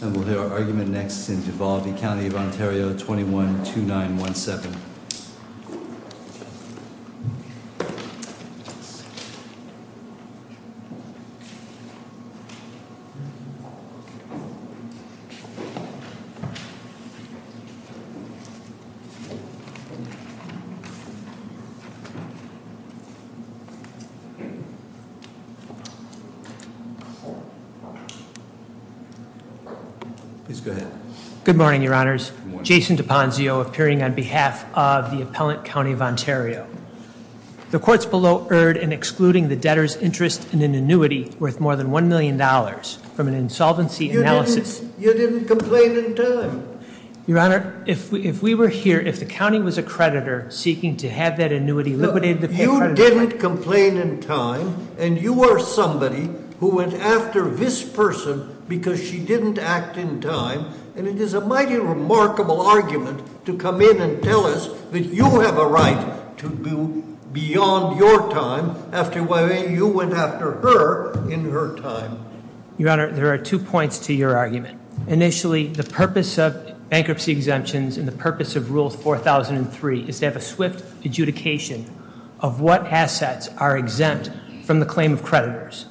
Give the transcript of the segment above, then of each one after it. And we'll hear our argument next in Duvall v. County of Ontario, 21-2917. Please go ahead. Good morning, your honors. Jason D'Aponzio appearing on behalf of the appellant county of Ontario. The courts below erred in excluding the debtor's interest in an annuity worth more than $1 million from an insolvency analysis. You didn't complain in time. Your honor, if we were here, if the county was a creditor seeking to have that annuity liquidated. You didn't complain in time and you are somebody who went after this person because she didn't act in time. And it is a mighty remarkable argument to come in and tell us that you have a right to go beyond your time after you went after her in her time. Your honor, there are two points to your argument. Initially, the purpose of bankruptcy exemptions and the purpose of rule 4003 is to have a swift adjudication of what assets are exempt from the claim of creditors.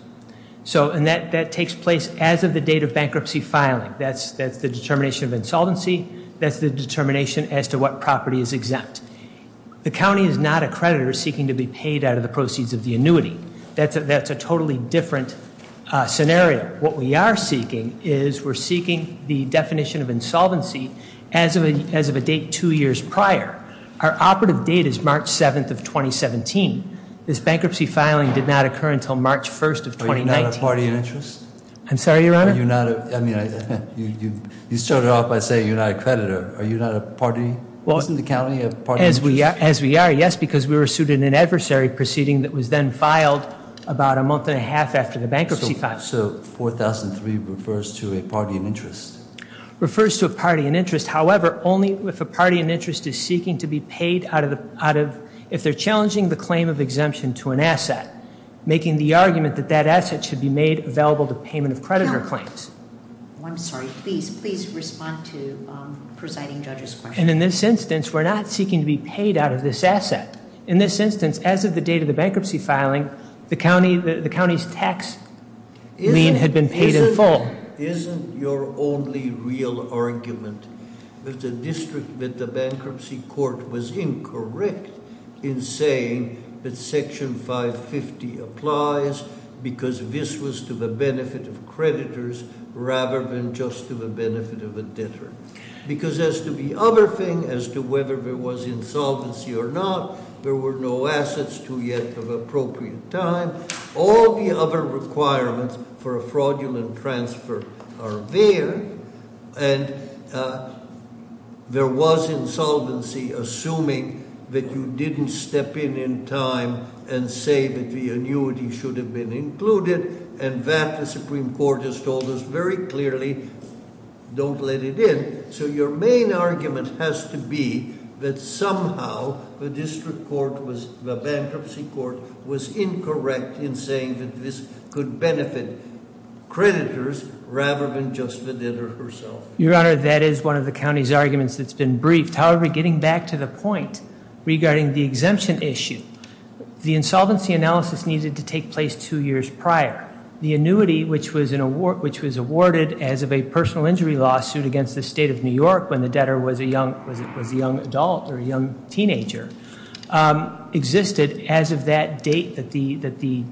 So, and that takes place as of the date of bankruptcy filing. That's the determination of insolvency. That's the determination as to what property is exempt. The county is not a creditor seeking to be paid out of the proceeds of the annuity. That's a totally different scenario. What we are seeking is we're seeking the definition of insolvency as of a date two years prior. Our operative date is March 7th of 2017. This bankruptcy filing did not occur until March 1st of 2019. Are you not a party in interest? I'm sorry, your honor? Are you not a, I mean, you started off by saying you're not a creditor. Are you not a party? Wasn't the county a party in interest? As we are, yes, because we were sued in an adversary proceeding that was then filed about a month and a half after the bankruptcy filed. So, 4003 refers to a party in interest. Refers to a party in interest. However, only if a party in interest is seeking to be paid out of, if they're challenging the claim of exemption to an asset. Making the argument that that asset should be made available to payment of creditor claims. I'm sorry, please, please respond to presiding judge's question. And in this instance, we're not seeking to be paid out of this asset. In this instance, as of the date of the bankruptcy filing, the county's tax lien had been paid in full. Isn't your only real argument that the district, that the bankruptcy court was incorrect in saying that section 550 applies. Because this was to the benefit of creditors rather than just to the benefit of a debtor. Because as to the other thing, as to whether there was insolvency or not, there were no assets to yet of appropriate time. All the other requirements for a fraudulent transfer are there. And there was insolvency, assuming that you didn't step in in time and say that the annuity should have been included. And that the Supreme Court has told us very clearly, don't let it in. So your main argument has to be that somehow the district court was, the bankruptcy court was incorrect in saying that this could benefit creditors rather than just the debtor herself. Your Honor, that is one of the county's arguments that's been briefed. However, getting back to the point regarding the exemption issue. The insolvency analysis needed to take place two years prior. The annuity, which was awarded as of a personal injury lawsuit against the state of New York, when the debtor was a young adult or a young teenager, existed as of that date that the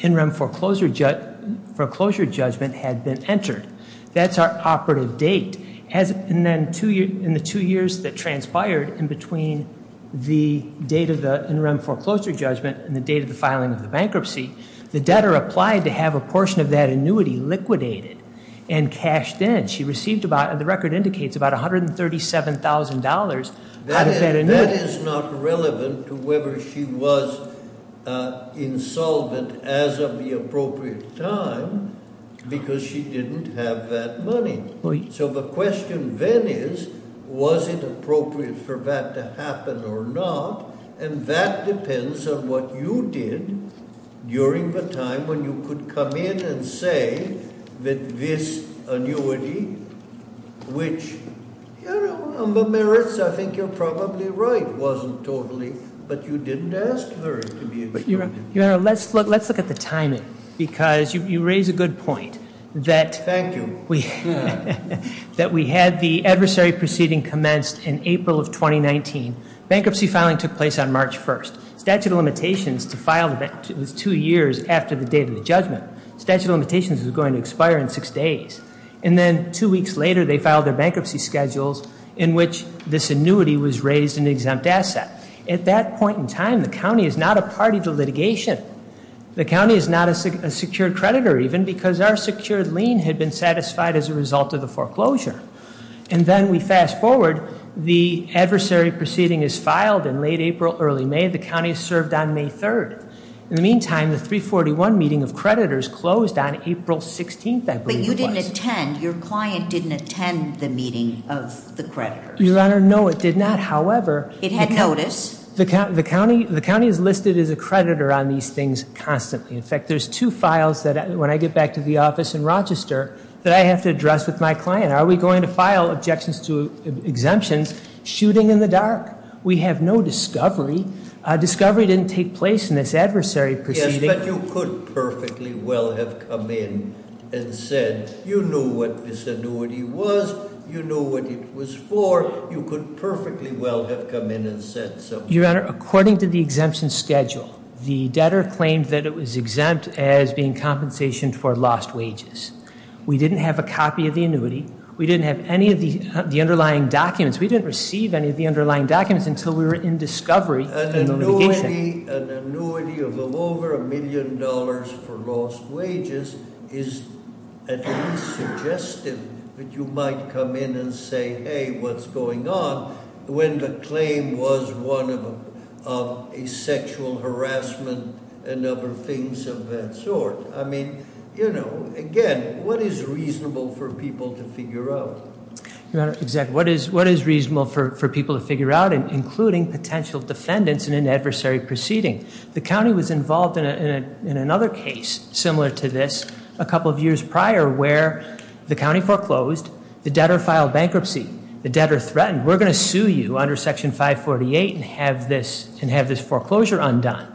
interim foreclosure judgment had been entered. That's our operative date. And then in the two years that transpired in between the date of the interim foreclosure judgment and the date of the filing of the bankruptcy, the debtor applied to have a portion of that annuity liquidated and cashed in. She received about, and the record indicates, about $137,000 out of that annuity. That is not relevant to whether she was insolvent as of the appropriate time because she didn't have that money. So the question then is, was it appropriate for that to happen or not? And that depends on what you did during the time when you could come in and say that this annuity, which, Your Honor, on the merits I think you're probably right, wasn't totally, but you didn't ask her to be- Your Honor, let's look at the timing because you raise a good point that- That we had the adversary proceeding commenced in April of 2019. Bankruptcy filing took place on March 1st. Statute of limitations to file, it was two years after the date of the judgment. Statute of limitations was going to expire in six days. And then two weeks later, they filed their bankruptcy schedules in which this annuity was raised an exempt asset. At that point in time, the county is not a party to litigation. The county is not a secured creditor even because our secured lien had been satisfied as a result of the foreclosure. And then we fast forward, the adversary proceeding is filed in late April, early May, the county is served on May 3rd. In the meantime, the 341 meeting of creditors closed on April 16th, I believe it was. But you didn't attend, your client didn't attend the meeting of the creditors. Your Honor, no it did not, however- It had notice. The county is listed as a creditor on these things constantly. In fact, there's two files that when I get back to the office in Rochester that I have to address with my client. Are we going to file objections to exemptions shooting in the dark? We have no discovery. Discovery didn't take place in this adversary proceeding. Yes, but you could perfectly well have come in and said, you knew what this annuity was. You knew what it was for. You could perfectly well have come in and said so. Your Honor, according to the exemption schedule, the debtor claimed that it was exempt as being compensation for lost wages. We didn't have a copy of the annuity. We didn't have any of the underlying documents. We didn't receive any of the underlying documents until we were in discovery. An annuity of over a million dollars for lost wages is at least suggestive that you might come in and say, hey, what's going on when the claim was one of a sexual harassment and other things of that sort. I mean, again, what is reasonable for people to figure out? Your Honor, exactly, what is reasonable for people to figure out, including potential defendants in an adversary proceeding? The county was involved in another case similar to this a couple of years prior where the county foreclosed, the debtor filed bankruptcy, the debtor threatened, we're going to sue you under section 548 and have this foreclosure undone.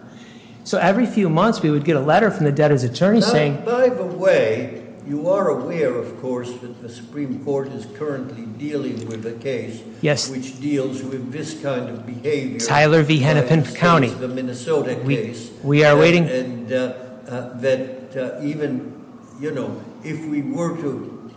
So every few months we would get a letter from the debtor's attorney saying- By the way, you are aware, of course, that the Supreme Court is currently dealing with a case. Yes. Which deals with this kind of behavior. Tyler V Hennepin County. The Minnesota case. We are waiting. And that even if we were to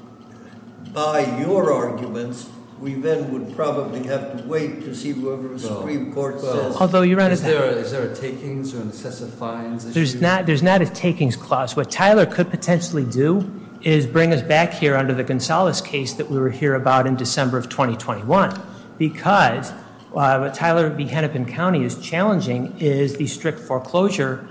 buy your arguments, we then would probably have to wait to see whoever the Supreme Court says. Although, Your Honor- Is there a takings or incessant fines issue? There's not a takings clause. What Tyler could potentially do is bring us back here under the Gonzales case that we were here about in December of 2021. Because what Tyler V Hennepin County is challenging is the strict foreclosure.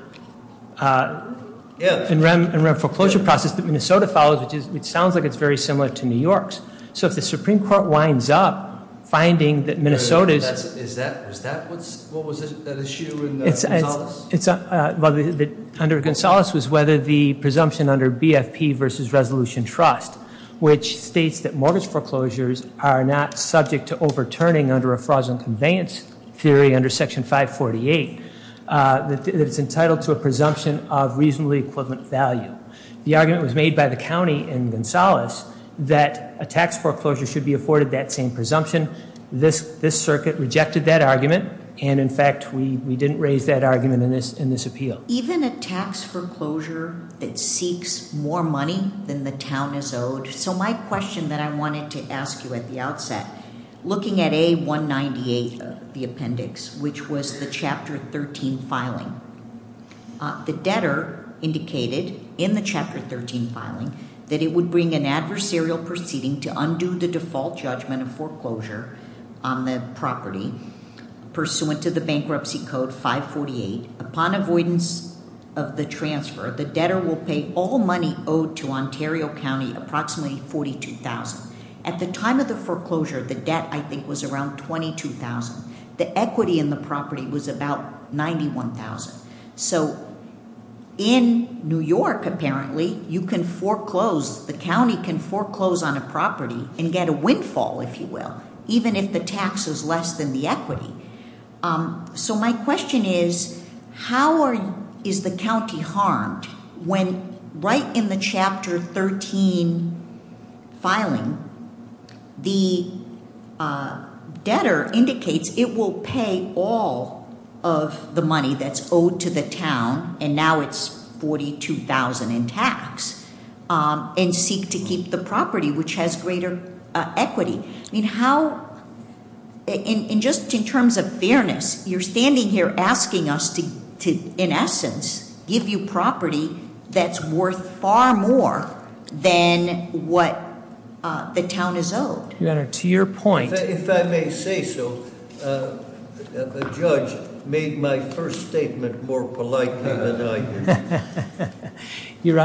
Yeah. In rem foreclosure process that Minnesota follows, which sounds like it's very similar to New York's. So if the Supreme Court winds up finding that Minnesota's- Is that, what was that issue in Gonzales? It's under Gonzales was whether the presumption under BFP versus Resolution Trust, which states that mortgage foreclosures are not subject to overturning under a fraudulent conveyance theory under Section 548. That it's entitled to a presumption of reasonably equivalent value. The argument was made by the county in Gonzales that a tax foreclosure should be afforded that same presumption. This circuit rejected that argument. And in fact, we didn't raise that argument in this appeal. Even a tax foreclosure that seeks more money than the town is owed. So my question that I wanted to ask you at the outset, looking at A198, the appendix, which was the Chapter 13 filing. The debtor indicated in the Chapter 13 filing that it would bring an adversarial proceeding to undo the default judgment of foreclosure on the property. Pursuant to the bankruptcy code 548, upon avoidance of the transfer, the debtor will pay all money owed to Ontario County approximately 42,000. At the time of the foreclosure, the debt, I think, was around 22,000. The equity in the property was about 91,000. So in New York, apparently, you can foreclose, the county can foreclose on a property and get a windfall, if you will. Even if the tax is less than the equity. So my question is, how is the county harmed when right in the Chapter 13 filing, the debtor indicates it will pay all of the money that's owed to the town. And now it's 42,000 in tax, and seek to keep the property which has greater equity. I mean, how, and just in terms of fairness, you're standing here asking us to, in essence, give you property that's worth far more than what the town is owed. Your Honor, to your point- If I may say so, the judge made my first statement more politely than I did. Your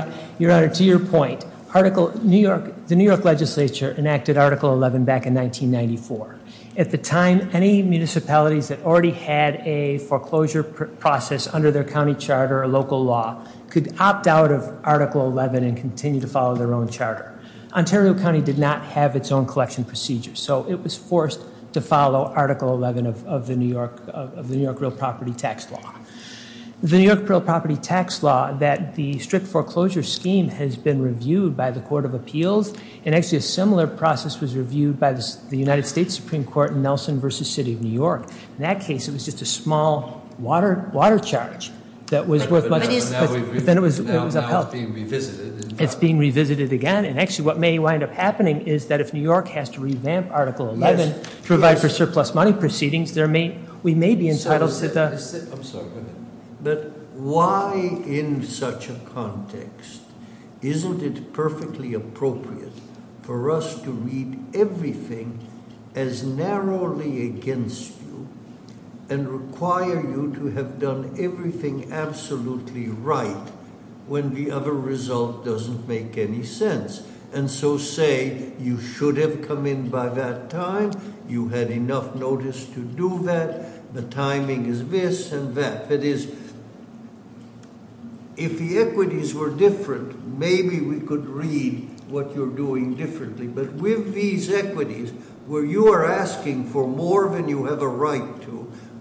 Honor, to your point, the New York legislature enacted Article 11 back in 1994. At the time, any municipalities that already had a foreclosure process under their county charter or local law could opt out of Article 11 and continue to follow their own charter. Ontario County did not have its own collection procedure, so it was forced to follow Article 11 of the New York Real Property Tax Law. The New York Real Property Tax Law, that the strict foreclosure scheme has been reviewed by the Court of Appeals. And actually, a similar process was reviewed by the United States Supreme Court in Nelson v. City of New York. In that case, it was just a small water charge that was worth much- But now it's being revisited. It's being revisited again. And actually, what may wind up happening is that if New York has to revamp Article 11 to provide for But why, in such a context, isn't it perfectly appropriate for us to read everything as narrowly against you? And require you to have done everything absolutely right when the other result doesn't make any sense. And so say, you should have come in by that time, you had enough notice to do that. The timing is this and that. It is, if the equities were different, maybe we could read what you're doing differently. But with these equities, where you are asking for more than you have a right to,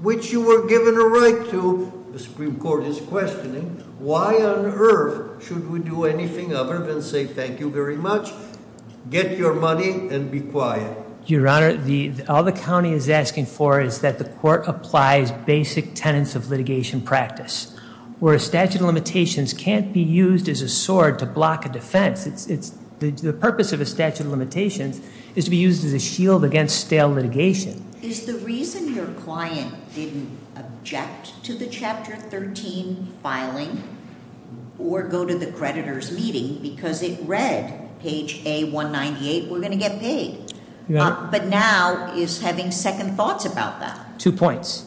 which you were given a right to, the Supreme Court is questioning. Why on Earth should we do anything other than say, thank you very much, get your money, and be quiet? Your Honor, all the county is asking for is that the court applies basic tenets of litigation practice. Where a statute of limitations can't be used as a sword to block a defense. The purpose of a statute of limitations is to be used as a shield against stale litigation. Is the reason your client didn't object to the Chapter 13 filing or go to the creditor's meeting because it read page A198, we're going to get paid. But now is having second thoughts about that. Two points.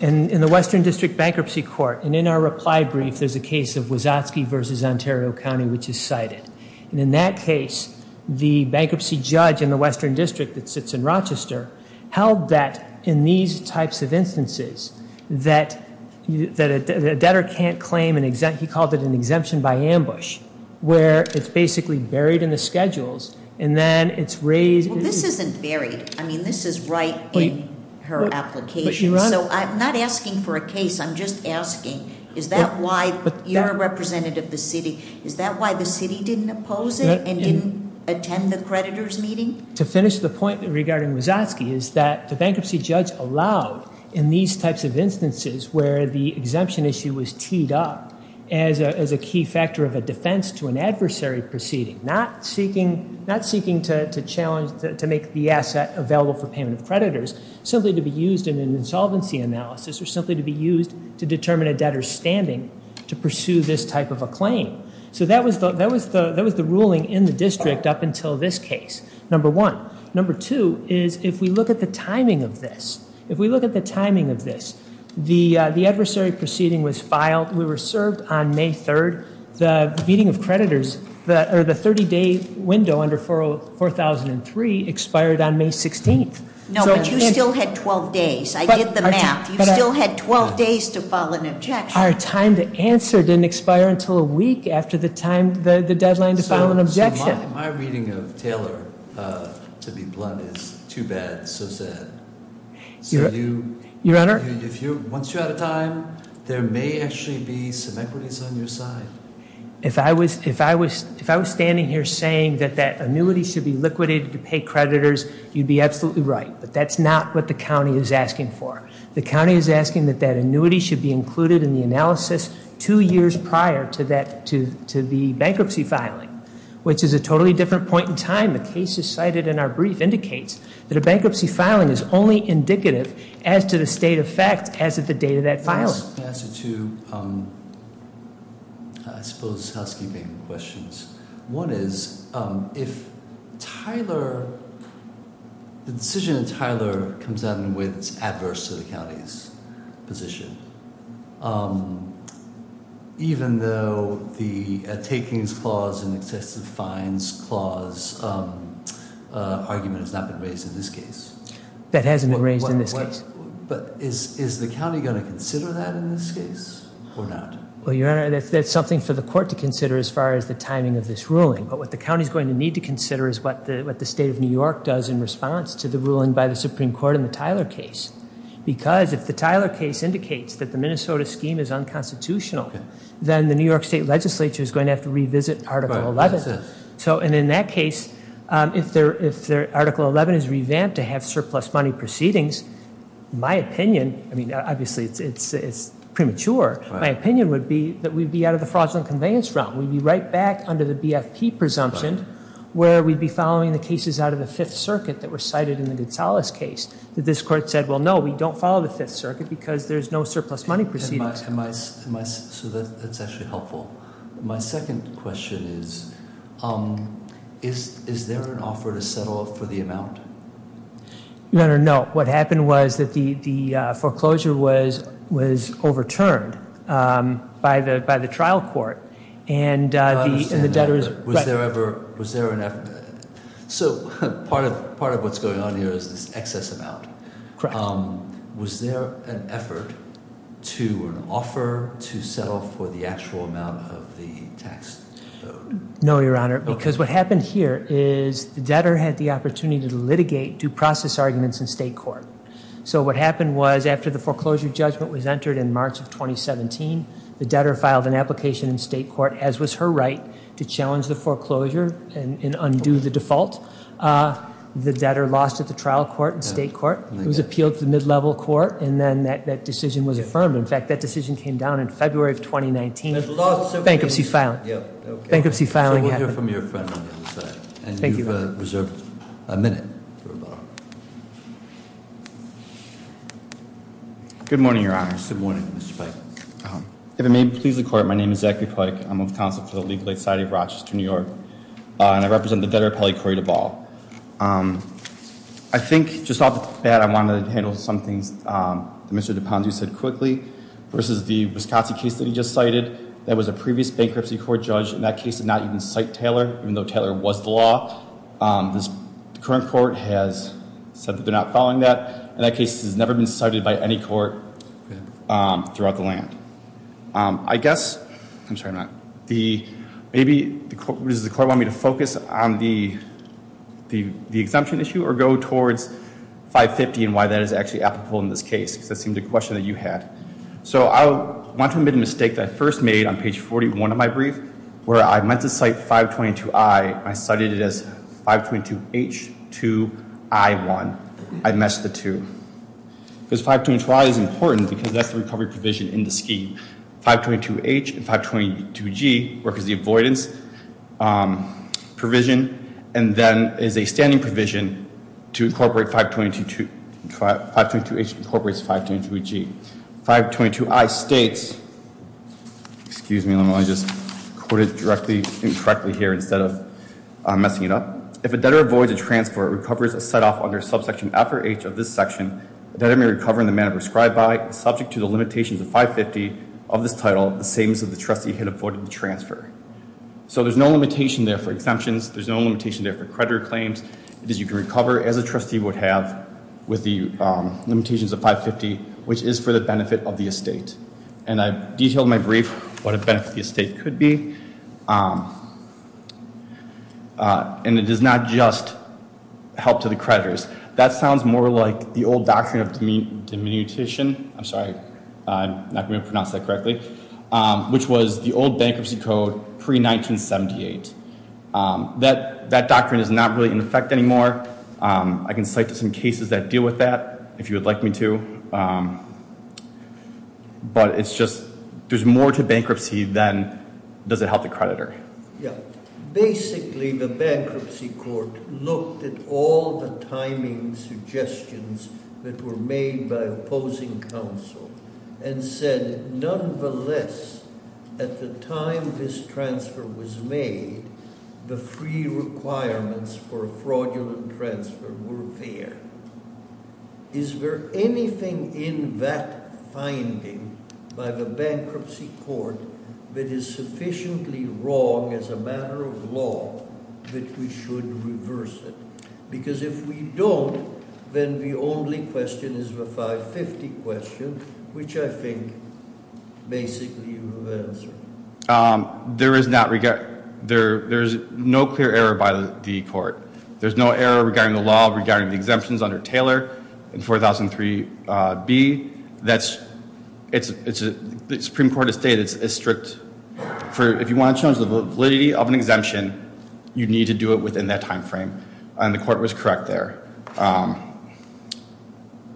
And in the Western District Bankruptcy Court, and in our reply brief, there's a case of Wazowski versus Ontario County, which is cited. And in that case, the bankruptcy judge in the Western District that sits in Rochester, held that in these types of instances, that a debtor can't claim an exemption. He called it an exemption by ambush, where it's basically buried in the schedules, and then it's raised- Well, this isn't buried. I mean, this is right in her application. So I'm not asking for a case, I'm just asking, is that why, you're a representative of the city. Is that why the city didn't oppose it and didn't attend the creditor's meeting? To finish the point regarding Wazowski is that the bankruptcy judge allowed in these types of instances where the exemption issue was teed up. As a key factor of a defense to an adversary proceeding, not seeking to challenge, to make the asset available for payment of creditors, simply to be used in an insolvency analysis, or simply to be used to determine a debtor's standing to pursue this type of a claim. So that was the ruling in the district up until this case, number one. Number two is, if we look at the timing of this, if we look at the timing of this, the adversary proceeding was filed, we were served on May 3rd. The meeting of creditors, or the 30 day window under 4003 expired on May 16th. So- No, but you still had 12 days. I did the math. You still had 12 days to file an objection. Our time to answer didn't expire until a week after the deadline to file an objection. My reading of Taylor, to be blunt, is too bad, so sad. Your Honor? Once you're out of time, there may actually be some equities on your side. If I was standing here saying that that annuity should be liquidated to pay creditors, you'd be absolutely right. But that's not what the county is asking for. The county is asking that that annuity should be included in the analysis two years prior to the bankruptcy filing. Which is a totally different point in time. The case you cited in our brief indicates that a bankruptcy filing is only indicative as to the state of fact as of the date of that filing. I'm going to ask you two, I suppose, housekeeping questions. One is, if the decision in Tyler comes out in a way that's adverse to the county's position. Even though the takings clause and excessive fines clause argument has not been raised in this case. That hasn't been raised in this case. But is the county going to consider that in this case or not? Well, Your Honor, that's something for the court to consider as far as the timing of this ruling. But what the county's going to need to consider is what the state of New York does in response to the ruling by the Supreme Court in the Tyler case. Because if the Tyler case indicates that the Minnesota scheme is unconstitutional, then the New York State Legislature is going to have to revisit Article 11. So, and in that case, if Article 11 is revamped to have surplus money proceedings, my opinion, I mean, obviously it's premature, my opinion would be that we'd be out of the fraudulent conveyance realm. We'd be right back under the BFP presumption where we'd be following the cases out of the Fifth Circuit that were cited in the Gonzalez case. That this court said, well, no, we don't follow the Fifth Circuit because there's no surplus money proceedings. Am I, so that's actually helpful. My second question is, is there an offer to settle for the amount? Your Honor, no. What happened was that the foreclosure was overturned by the trial court. And the debtors- Was there an, so part of what's going on here is this excess amount. Correct. Was there an effort to an offer to settle for the actual amount of the tax? No, Your Honor, because what happened here is the debtor had the opportunity to litigate due process arguments in state court. So what happened was after the foreclosure judgment was entered in March of 2017, the debtor filed an application in state court, as was her right, to challenge the foreclosure and undo the default. The debtor lost at the trial court and state court. It was appealed to the mid-level court, and then that decision was affirmed. In fact, that decision came down in February of 2019. Bankruptcy filed. Bankruptcy filing happened. So we'll hear from your friend on the other side. And you've reserved a minute for a moment. Good morning, Your Honor. Good morning, Mr. Pike. If it may please the court, my name is Zachary Pike. I'm with the Council for the Legal Aid Society of Rochester, New York. And I represent the debtor appellee, Corey Duval. I think, just off the bat, I wanted to handle some things that Mr. Dupond-Due said quickly, versus the Wisconsin case that he just cited. That was a previous bankruptcy court judge, and that case did not even cite Taylor, even though Taylor was the law. The current court has said that they're not following that, and that case has never been cited by any court. Throughout the land. I guess, I'm sorry, I'm not. The, maybe, does the court want me to focus on the exemption issue or go towards 550 and why that is actually applicable in this case, because that seemed a question that you had. So I want to admit a mistake that I first made on page 41 of my brief, where I meant to cite 522-I. I cited it as 522-H2-I-1. I missed the two. Because 522-I is important, because that's the recovery provision in the scheme. 522-H and 522-G work as the avoidance provision, and then as a standing provision to incorporate 522-H incorporates 522-G. 522-I states, excuse me, let me just quote it directly and correctly here instead of messing it up. If a debtor avoids a transfer or recovers a set off under subsection F or H of this section, the debtor may recover in the manner prescribed by, subject to the limitations of 550 of this title, the same as if the trustee had avoided the transfer. So there's no limitation there for exemptions. There's no limitation there for creditor claims. It is you can recover as a trustee would have with the limitations of 550, which is for the benefit of the estate. And I've detailed in my brief what a benefit of the estate could be. And it does not just help to the creditors. That sounds more like the old doctrine of diminutition, I'm sorry, I'm not going to pronounce that correctly, which was the old bankruptcy code pre-1978. That doctrine is not really in effect anymore. I can cite some cases that deal with that, if you would like me to. But it's just, there's more to bankruptcy than does it help the creditor. Yeah, basically the bankruptcy court looked at all the timing suggestions that were made by opposing counsel and said, nonetheless, at the time this transfer was made, the free requirements for the bankruptcy court that is sufficiently wrong as a matter of law that we should reverse it. Because if we don't, then the only question is the 550 question, which I think basically you have answered. There is no clear error by the court. There's no error regarding the law, regarding the exemptions under Taylor. In 4003B, the Supreme Court has stated it's strict. For if you want to change the validity of an exemption, you need to do it within that time frame. And the court was correct there.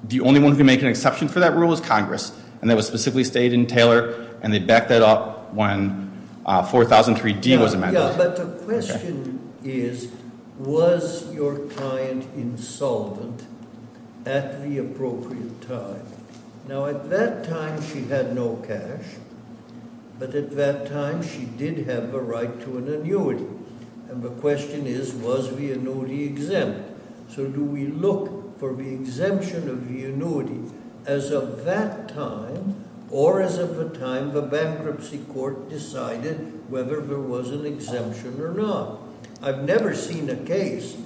The only one who can make an exception for that rule is Congress. And that was specifically stated in Taylor, and they backed that up when 4003D was amended. Yeah, but the question is, was your client insolvent at the appropriate time? Now at that time she had no cash, but at that time she did have the right to an annuity. And the question is, was the annuity exempt? So do we look for the exemption of the annuity as of that time or as of the time the bankruptcy court decided whether there was an exemption or not? I've never seen a case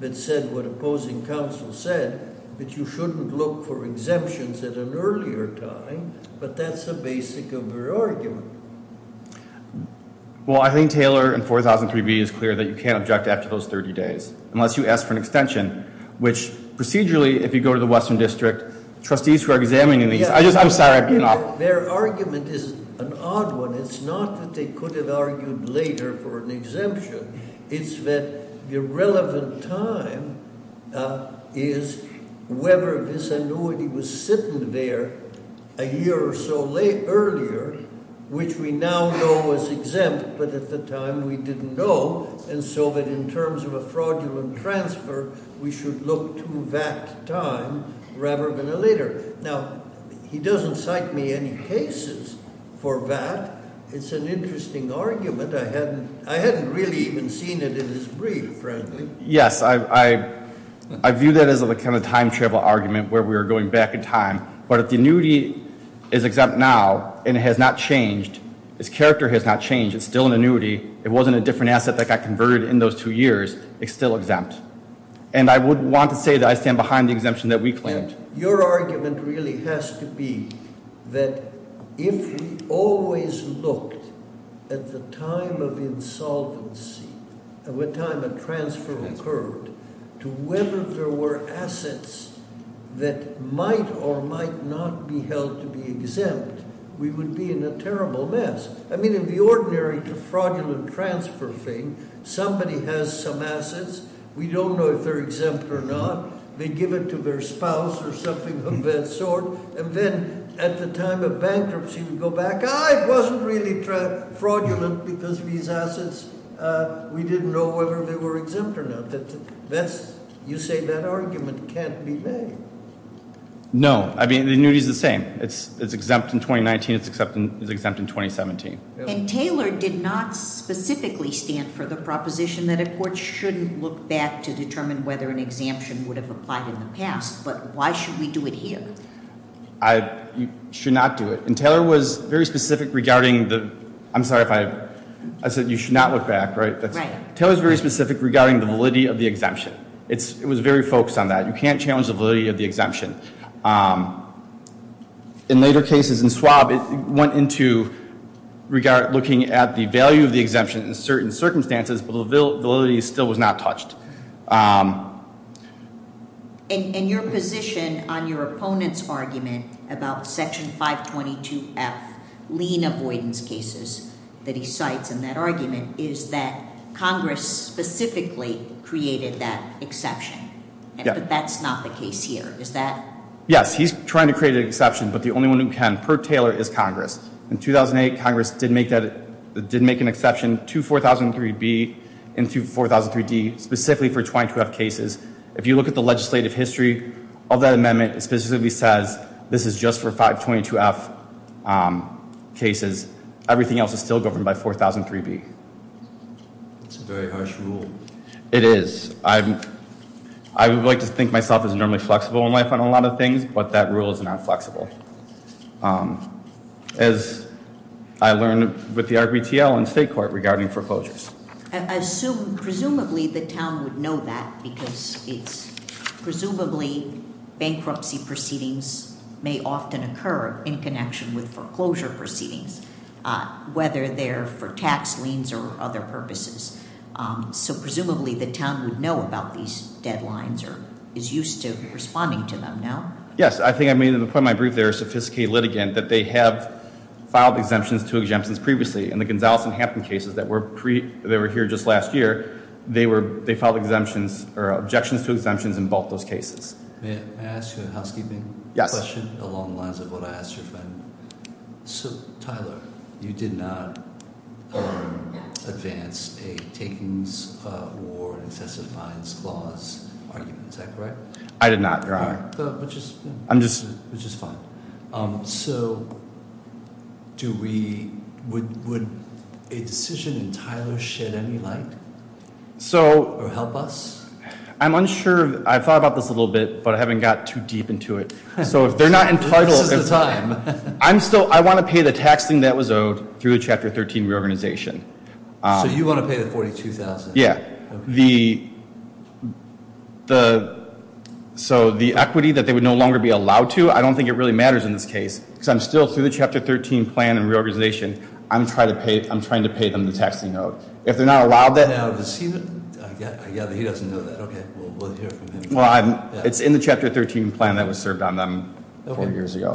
that said what opposing counsel said, that you shouldn't look for exemptions at an earlier time, but that's the basic of her argument. Well, I think Taylor and 4003B is clear that you can't object after those 30 days, unless you ask for an extension. Which procedurally, if you go to the Western District, trustees who are examining these, I'm sorry, I've been off. Their argument is an odd one. It's not that they could have argued later for an exemption. It's that the relevant time is whether this annuity was sitting there a year or so earlier, which we now know is exempt, but at the time we didn't know. And so that in terms of a fraudulent transfer, we should look to that time rather than a later. Now, he doesn't cite me any cases for that. It's an interesting argument. I hadn't really even seen it in his brief, frankly. Yes, I view that as a kind of time travel argument where we are going back in time. But if the annuity is exempt now and it has not changed, its character has not changed, it's still an annuity. It wasn't a different asset that got converted in those two years, it's still exempt. And I would want to say that I stand behind the exemption that we claimed. Your argument really has to be that if we always looked at the time of insolvency, at the time a transfer occurred, to whether there were assets that might or might not be held to be exempt, we would be in a terrible mess. I mean, in the ordinary fraudulent transfer thing, somebody has some assets. We don't know if they're exempt or not. They give it to their spouse or something of that sort. And then at the time of bankruptcy, we go back, it wasn't really fraudulent because of these assets. We didn't know whether they were exempt or not. You say that argument can't be made. No, I mean, the annuity's the same. It's exempt in 2019, it's exempt in 2017. And Taylor did not specifically stand for the proposition that a court shouldn't look back to determine whether an exemption would have applied in the past. But why should we do it here? I should not do it. And Taylor was very specific regarding the, I'm sorry if I, I said you should not look back, right? Right. Taylor's very specific regarding the validity of the exemption. It was very focused on that. You can't challenge the validity of the exemption. In later cases in swab, it went into regard, looking at the value of the exemption in certain circumstances, but the validity still was not touched. And your position on your opponent's argument about section 522F, lien avoidance cases that he cites in that argument, is that Congress specifically created that exception. Yeah. But that's not the case here. Yes, he's trying to create an exception, but the only one who can per Taylor is Congress. In 2008, Congress did make an exception to 4003B and to 4003D, specifically for 22F cases. If you look at the legislative history of that amendment, it specifically says this is just for 522F cases. Everything else is still governed by 4003B. That's a very harsh rule. It is. I would like to think myself as normally flexible in life on a lot of things, but that rule is not flexible. As I learned with the RPTL and state court regarding foreclosures. I assume, presumably, the town would know that because it's presumably bankruptcy proceedings may often occur in connection with foreclosure proceedings. Whether they're for tax liens or other purposes. So presumably, the town would know about these deadlines or is used to responding to them, no? Yes, I think I made the point in my brief there, a sophisticated litigant, that they have filed exemptions to exemptions previously. In the Gonzales and Hampton cases that were here just last year, they filed exemptions or objections to exemptions in both those cases. May I ask you a housekeeping question along the lines of what I asked your friend? So, Tyler, you did not advance a takings award excessive fines clause argument, is that correct? I did not, you're on. I'm just. Which is fine. So, would a decision in Tyler shed any light or help us? I'm unsure, I've thought about this a little bit, but I haven't got too deep into it. So if they're not entitled. This is the time. I'm still, I want to pay the tax thing that was owed through the chapter 13 reorganization. So you want to pay the 42,000? Yeah. So the equity that they would no longer be allowed to, I don't think it really matters in this case. because I'm still through the chapter 13 plan and reorganization, I'm trying to pay them the tax they owe. If they're not allowed that. Now does he, I gather he doesn't know that. Okay, we'll hear from him. Well, it's in the chapter 13 plan that was served on them four years ago.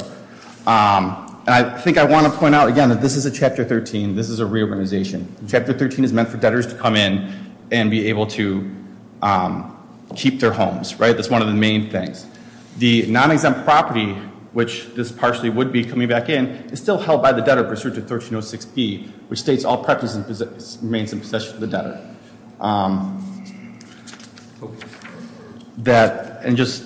And I think I want to point out again that this is a chapter 13, this is a reorganization. Chapter 13 is meant for debtors to come in and be able to keep their homes, right? That's one of the main things. The non-exempt property, which this partially would be coming back in, is still held by the debtor pursuant to 1306B, which states all properties remain in possession of the debtor. That, and just,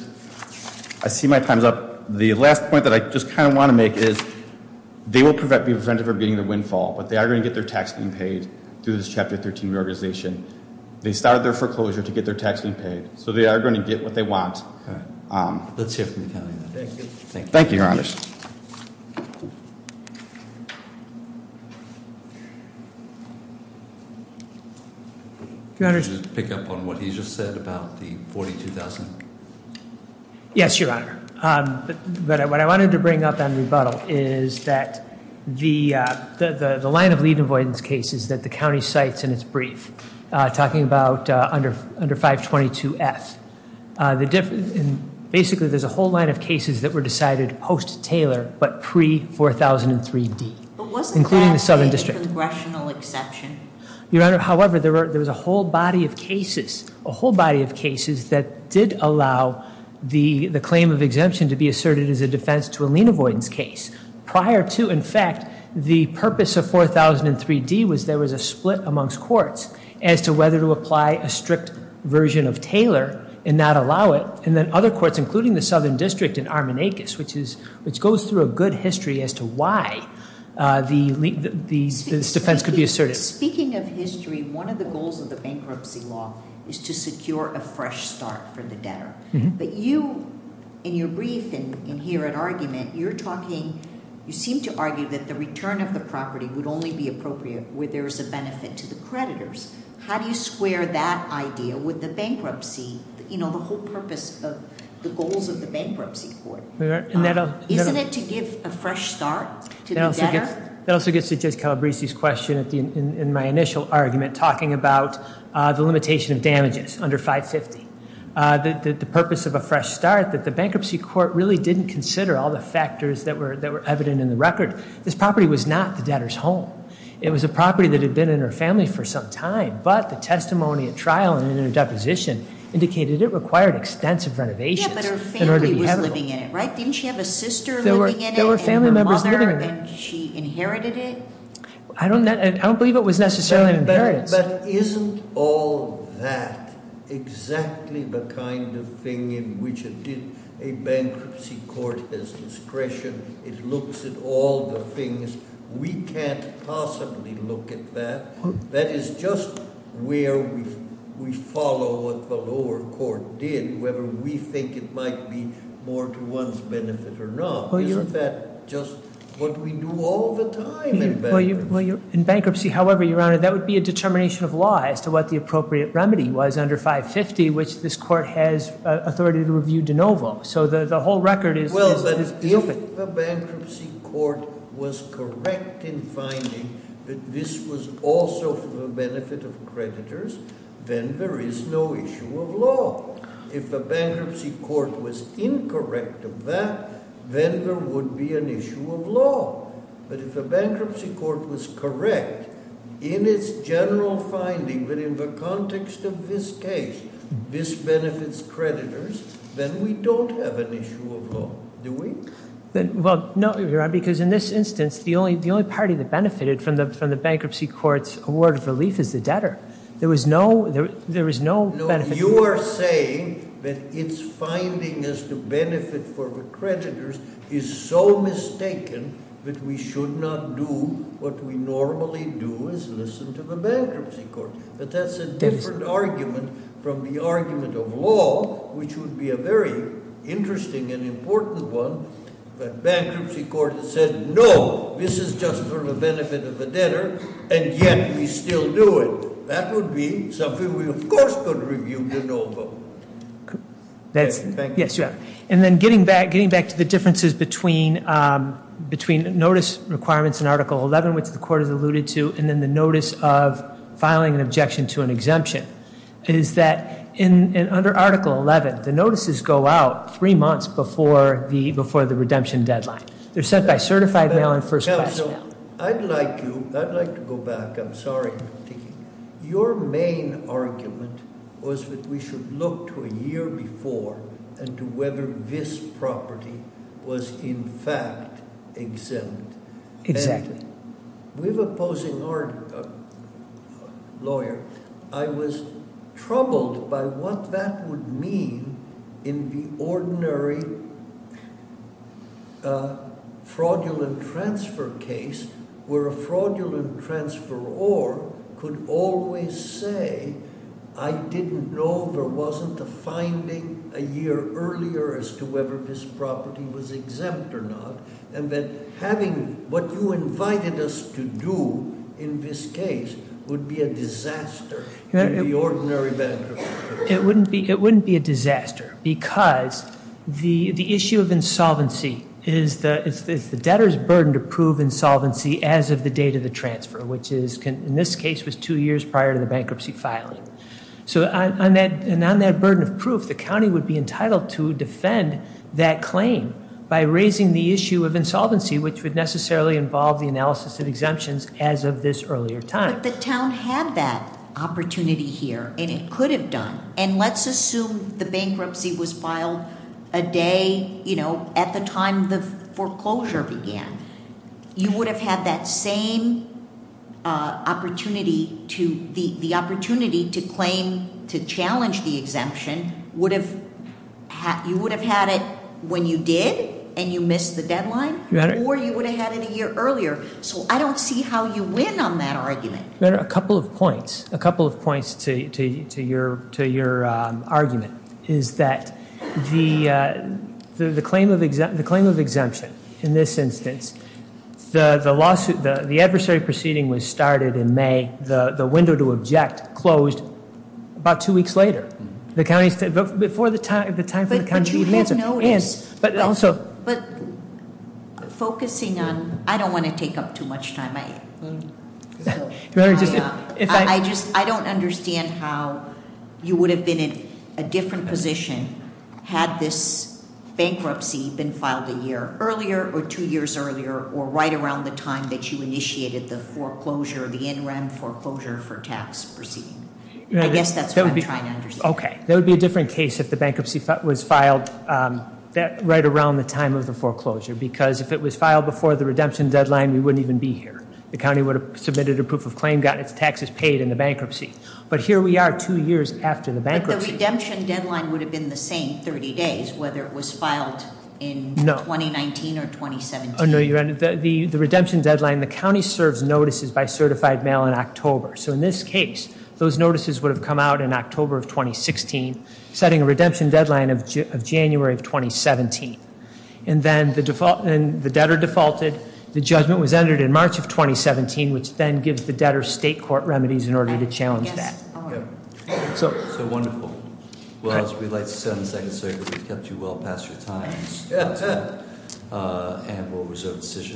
I see my time's up. The last point that I just kind of want to make is, they will be prevented from getting the windfall, but they are going to get their tax being paid through this chapter 13 reorganization. They started their foreclosure to get their tax being paid. So they are going to get what they want. Let's hear from the county. Thank you, your honor. Your honor- Just pick up on what he just said about the 42,000. Yes, your honor. But what I wanted to bring up on rebuttal is that the line of lead avoidance case is that the county cites in its brief, talking about under 522F. Basically, there's a whole line of cases that were decided post-Taylor, but pre-4003D. But wasn't that a congressional exception? Your honor, however, there was a whole body of cases that did allow the claim of exemption to be asserted as a defense to a lien avoidance case. Prior to, in fact, the purpose of 4003D was there was a split amongst courts as to whether to apply a strict version of Taylor and not allow it. And then other courts, including the Southern District in Armonakis, which goes through a good history as to why this defense could be asserted. Speaking of history, one of the goals of the bankruptcy law is to secure a fresh start for the debtor. But you, in your brief and here at argument, you're talking, you seem to argue that the return of the property would only be appropriate where there's a benefit to the creditors. How do you square that idea with the bankruptcy, the whole purpose of the goals of the bankruptcy court? Isn't it to give a fresh start to the debtor? That also gets to Judge Calabresi's question in my initial argument, talking about the limitation of damages under 550. The purpose of a fresh start that the bankruptcy court really didn't consider all the factors that were evident in the record. This property was not the debtor's home. It was a property that had been in her family for some time, but the testimony at trial and in her deposition indicated it required extensive renovations in order to be habitable. Didn't she have a sister living in it, and her mother, and she inherited it? I don't believe it was necessarily an inheritance. But isn't all that exactly the kind of thing in which it did, a bankruptcy court has discretion, it looks at all the things. We can't possibly look at that. That is just where we follow what the lower court did, whether we think it might be more to one's benefit or not. Isn't that just what we do all the time in bankruptcy? In bankruptcy, however, your honor, that would be a determination of law as to what the appropriate remedy was under 550, which this court has authority to review de novo, so the whole record is open. Well, but if the bankruptcy court was correct in finding that this was also for the benefit of creditors, then there is no issue of law. If the bankruptcy court was incorrect of that, then there would be an issue of law. But if the bankruptcy court was correct in its general finding that in the context of this case, this benefits creditors, then we don't have an issue of law, do we? Well, no, your honor, because in this instance, the only party that benefited from the bankruptcy court's award of relief is the debtor. There was no benefit- No, you are saying that it's finding as to benefit for the creditors is so mistaken that we should not do what we normally do is listen to the bankruptcy court. But that's a different argument from the argument of law, which would be a very interesting and important one, that bankruptcy court said, no, this is just for the benefit of the debtor, and yet we still do it. That would be something we, of course, could review, but no vote. Thank you. And then getting back to the differences between notice requirements in Article 11, which the court has alluded to, and then the notice of filing an objection to an exemption. Is that under Article 11, the notices go out three months before the redemption deadline. They're sent by certified mail and first class mail. I'd like to go back. I'm sorry. Your main argument was that we should look to a year before and to whether this property was in fact exempt. Exactly. With opposing lawyer, I was troubled by what that would mean in the ordinary fraudulent transfer case, where a fraudulent transferor could always say, I didn't know there wasn't a finding a year earlier as to whether this property was exempt or not. And then having what you invited us to do in this case would be a disaster in the ordinary bankruptcy. It wouldn't be a disaster because the issue of insolvency is the debtor's burden to prove insolvency as of the date of the transfer, which in this case was two years prior to the bankruptcy filing. So on that burden of proof, the county would be entitled to defend that claim by raising the issue of insolvency, which would necessarily involve the analysis of exemptions as of this earlier time. But the town had that opportunity here, and it could have done. And let's assume the bankruptcy was filed a day at the time the foreclosure began. You would have had that same opportunity to claim, to challenge the exemption, you would have had it when you did and you missed the deadline, or you would have had it a year earlier. So I don't see how you win on that argument. A couple of points, a couple of points to your argument, is that the claim of exemption in this instance, the adversary proceeding was started in May, the window to object closed about two weeks later. The county, before the time for the county to answer, and but also- I don't understand how you would have been in a different position, had this bankruptcy been filed a year earlier, or two years earlier, or right around the time that you initiated the foreclosure, the NREM foreclosure for tax proceeding. I guess that's what I'm trying to understand. Okay, there would be a different case if the bankruptcy was filed right around the time of the foreclosure. Because if it was filed before the redemption deadline, we wouldn't even be here. The county would have submitted a proof of claim, gotten its taxes paid in the bankruptcy. But here we are, two years after the bankruptcy. But the redemption deadline would have been the same 30 days, whether it was filed in 2019 or 2017. No, the redemption deadline, the county serves notices by certified mail in October. So in this case, those notices would have come out in October of 2016, setting a redemption deadline of January of 2017. And then the debtor defaulted, the judgment was entered in March of 2017, which then gives the debtor state court remedies in order to challenge that. So- So wonderful. Well, as we like to say on the Second Circuit, we've kept you well past your time. And we'll reserve decision.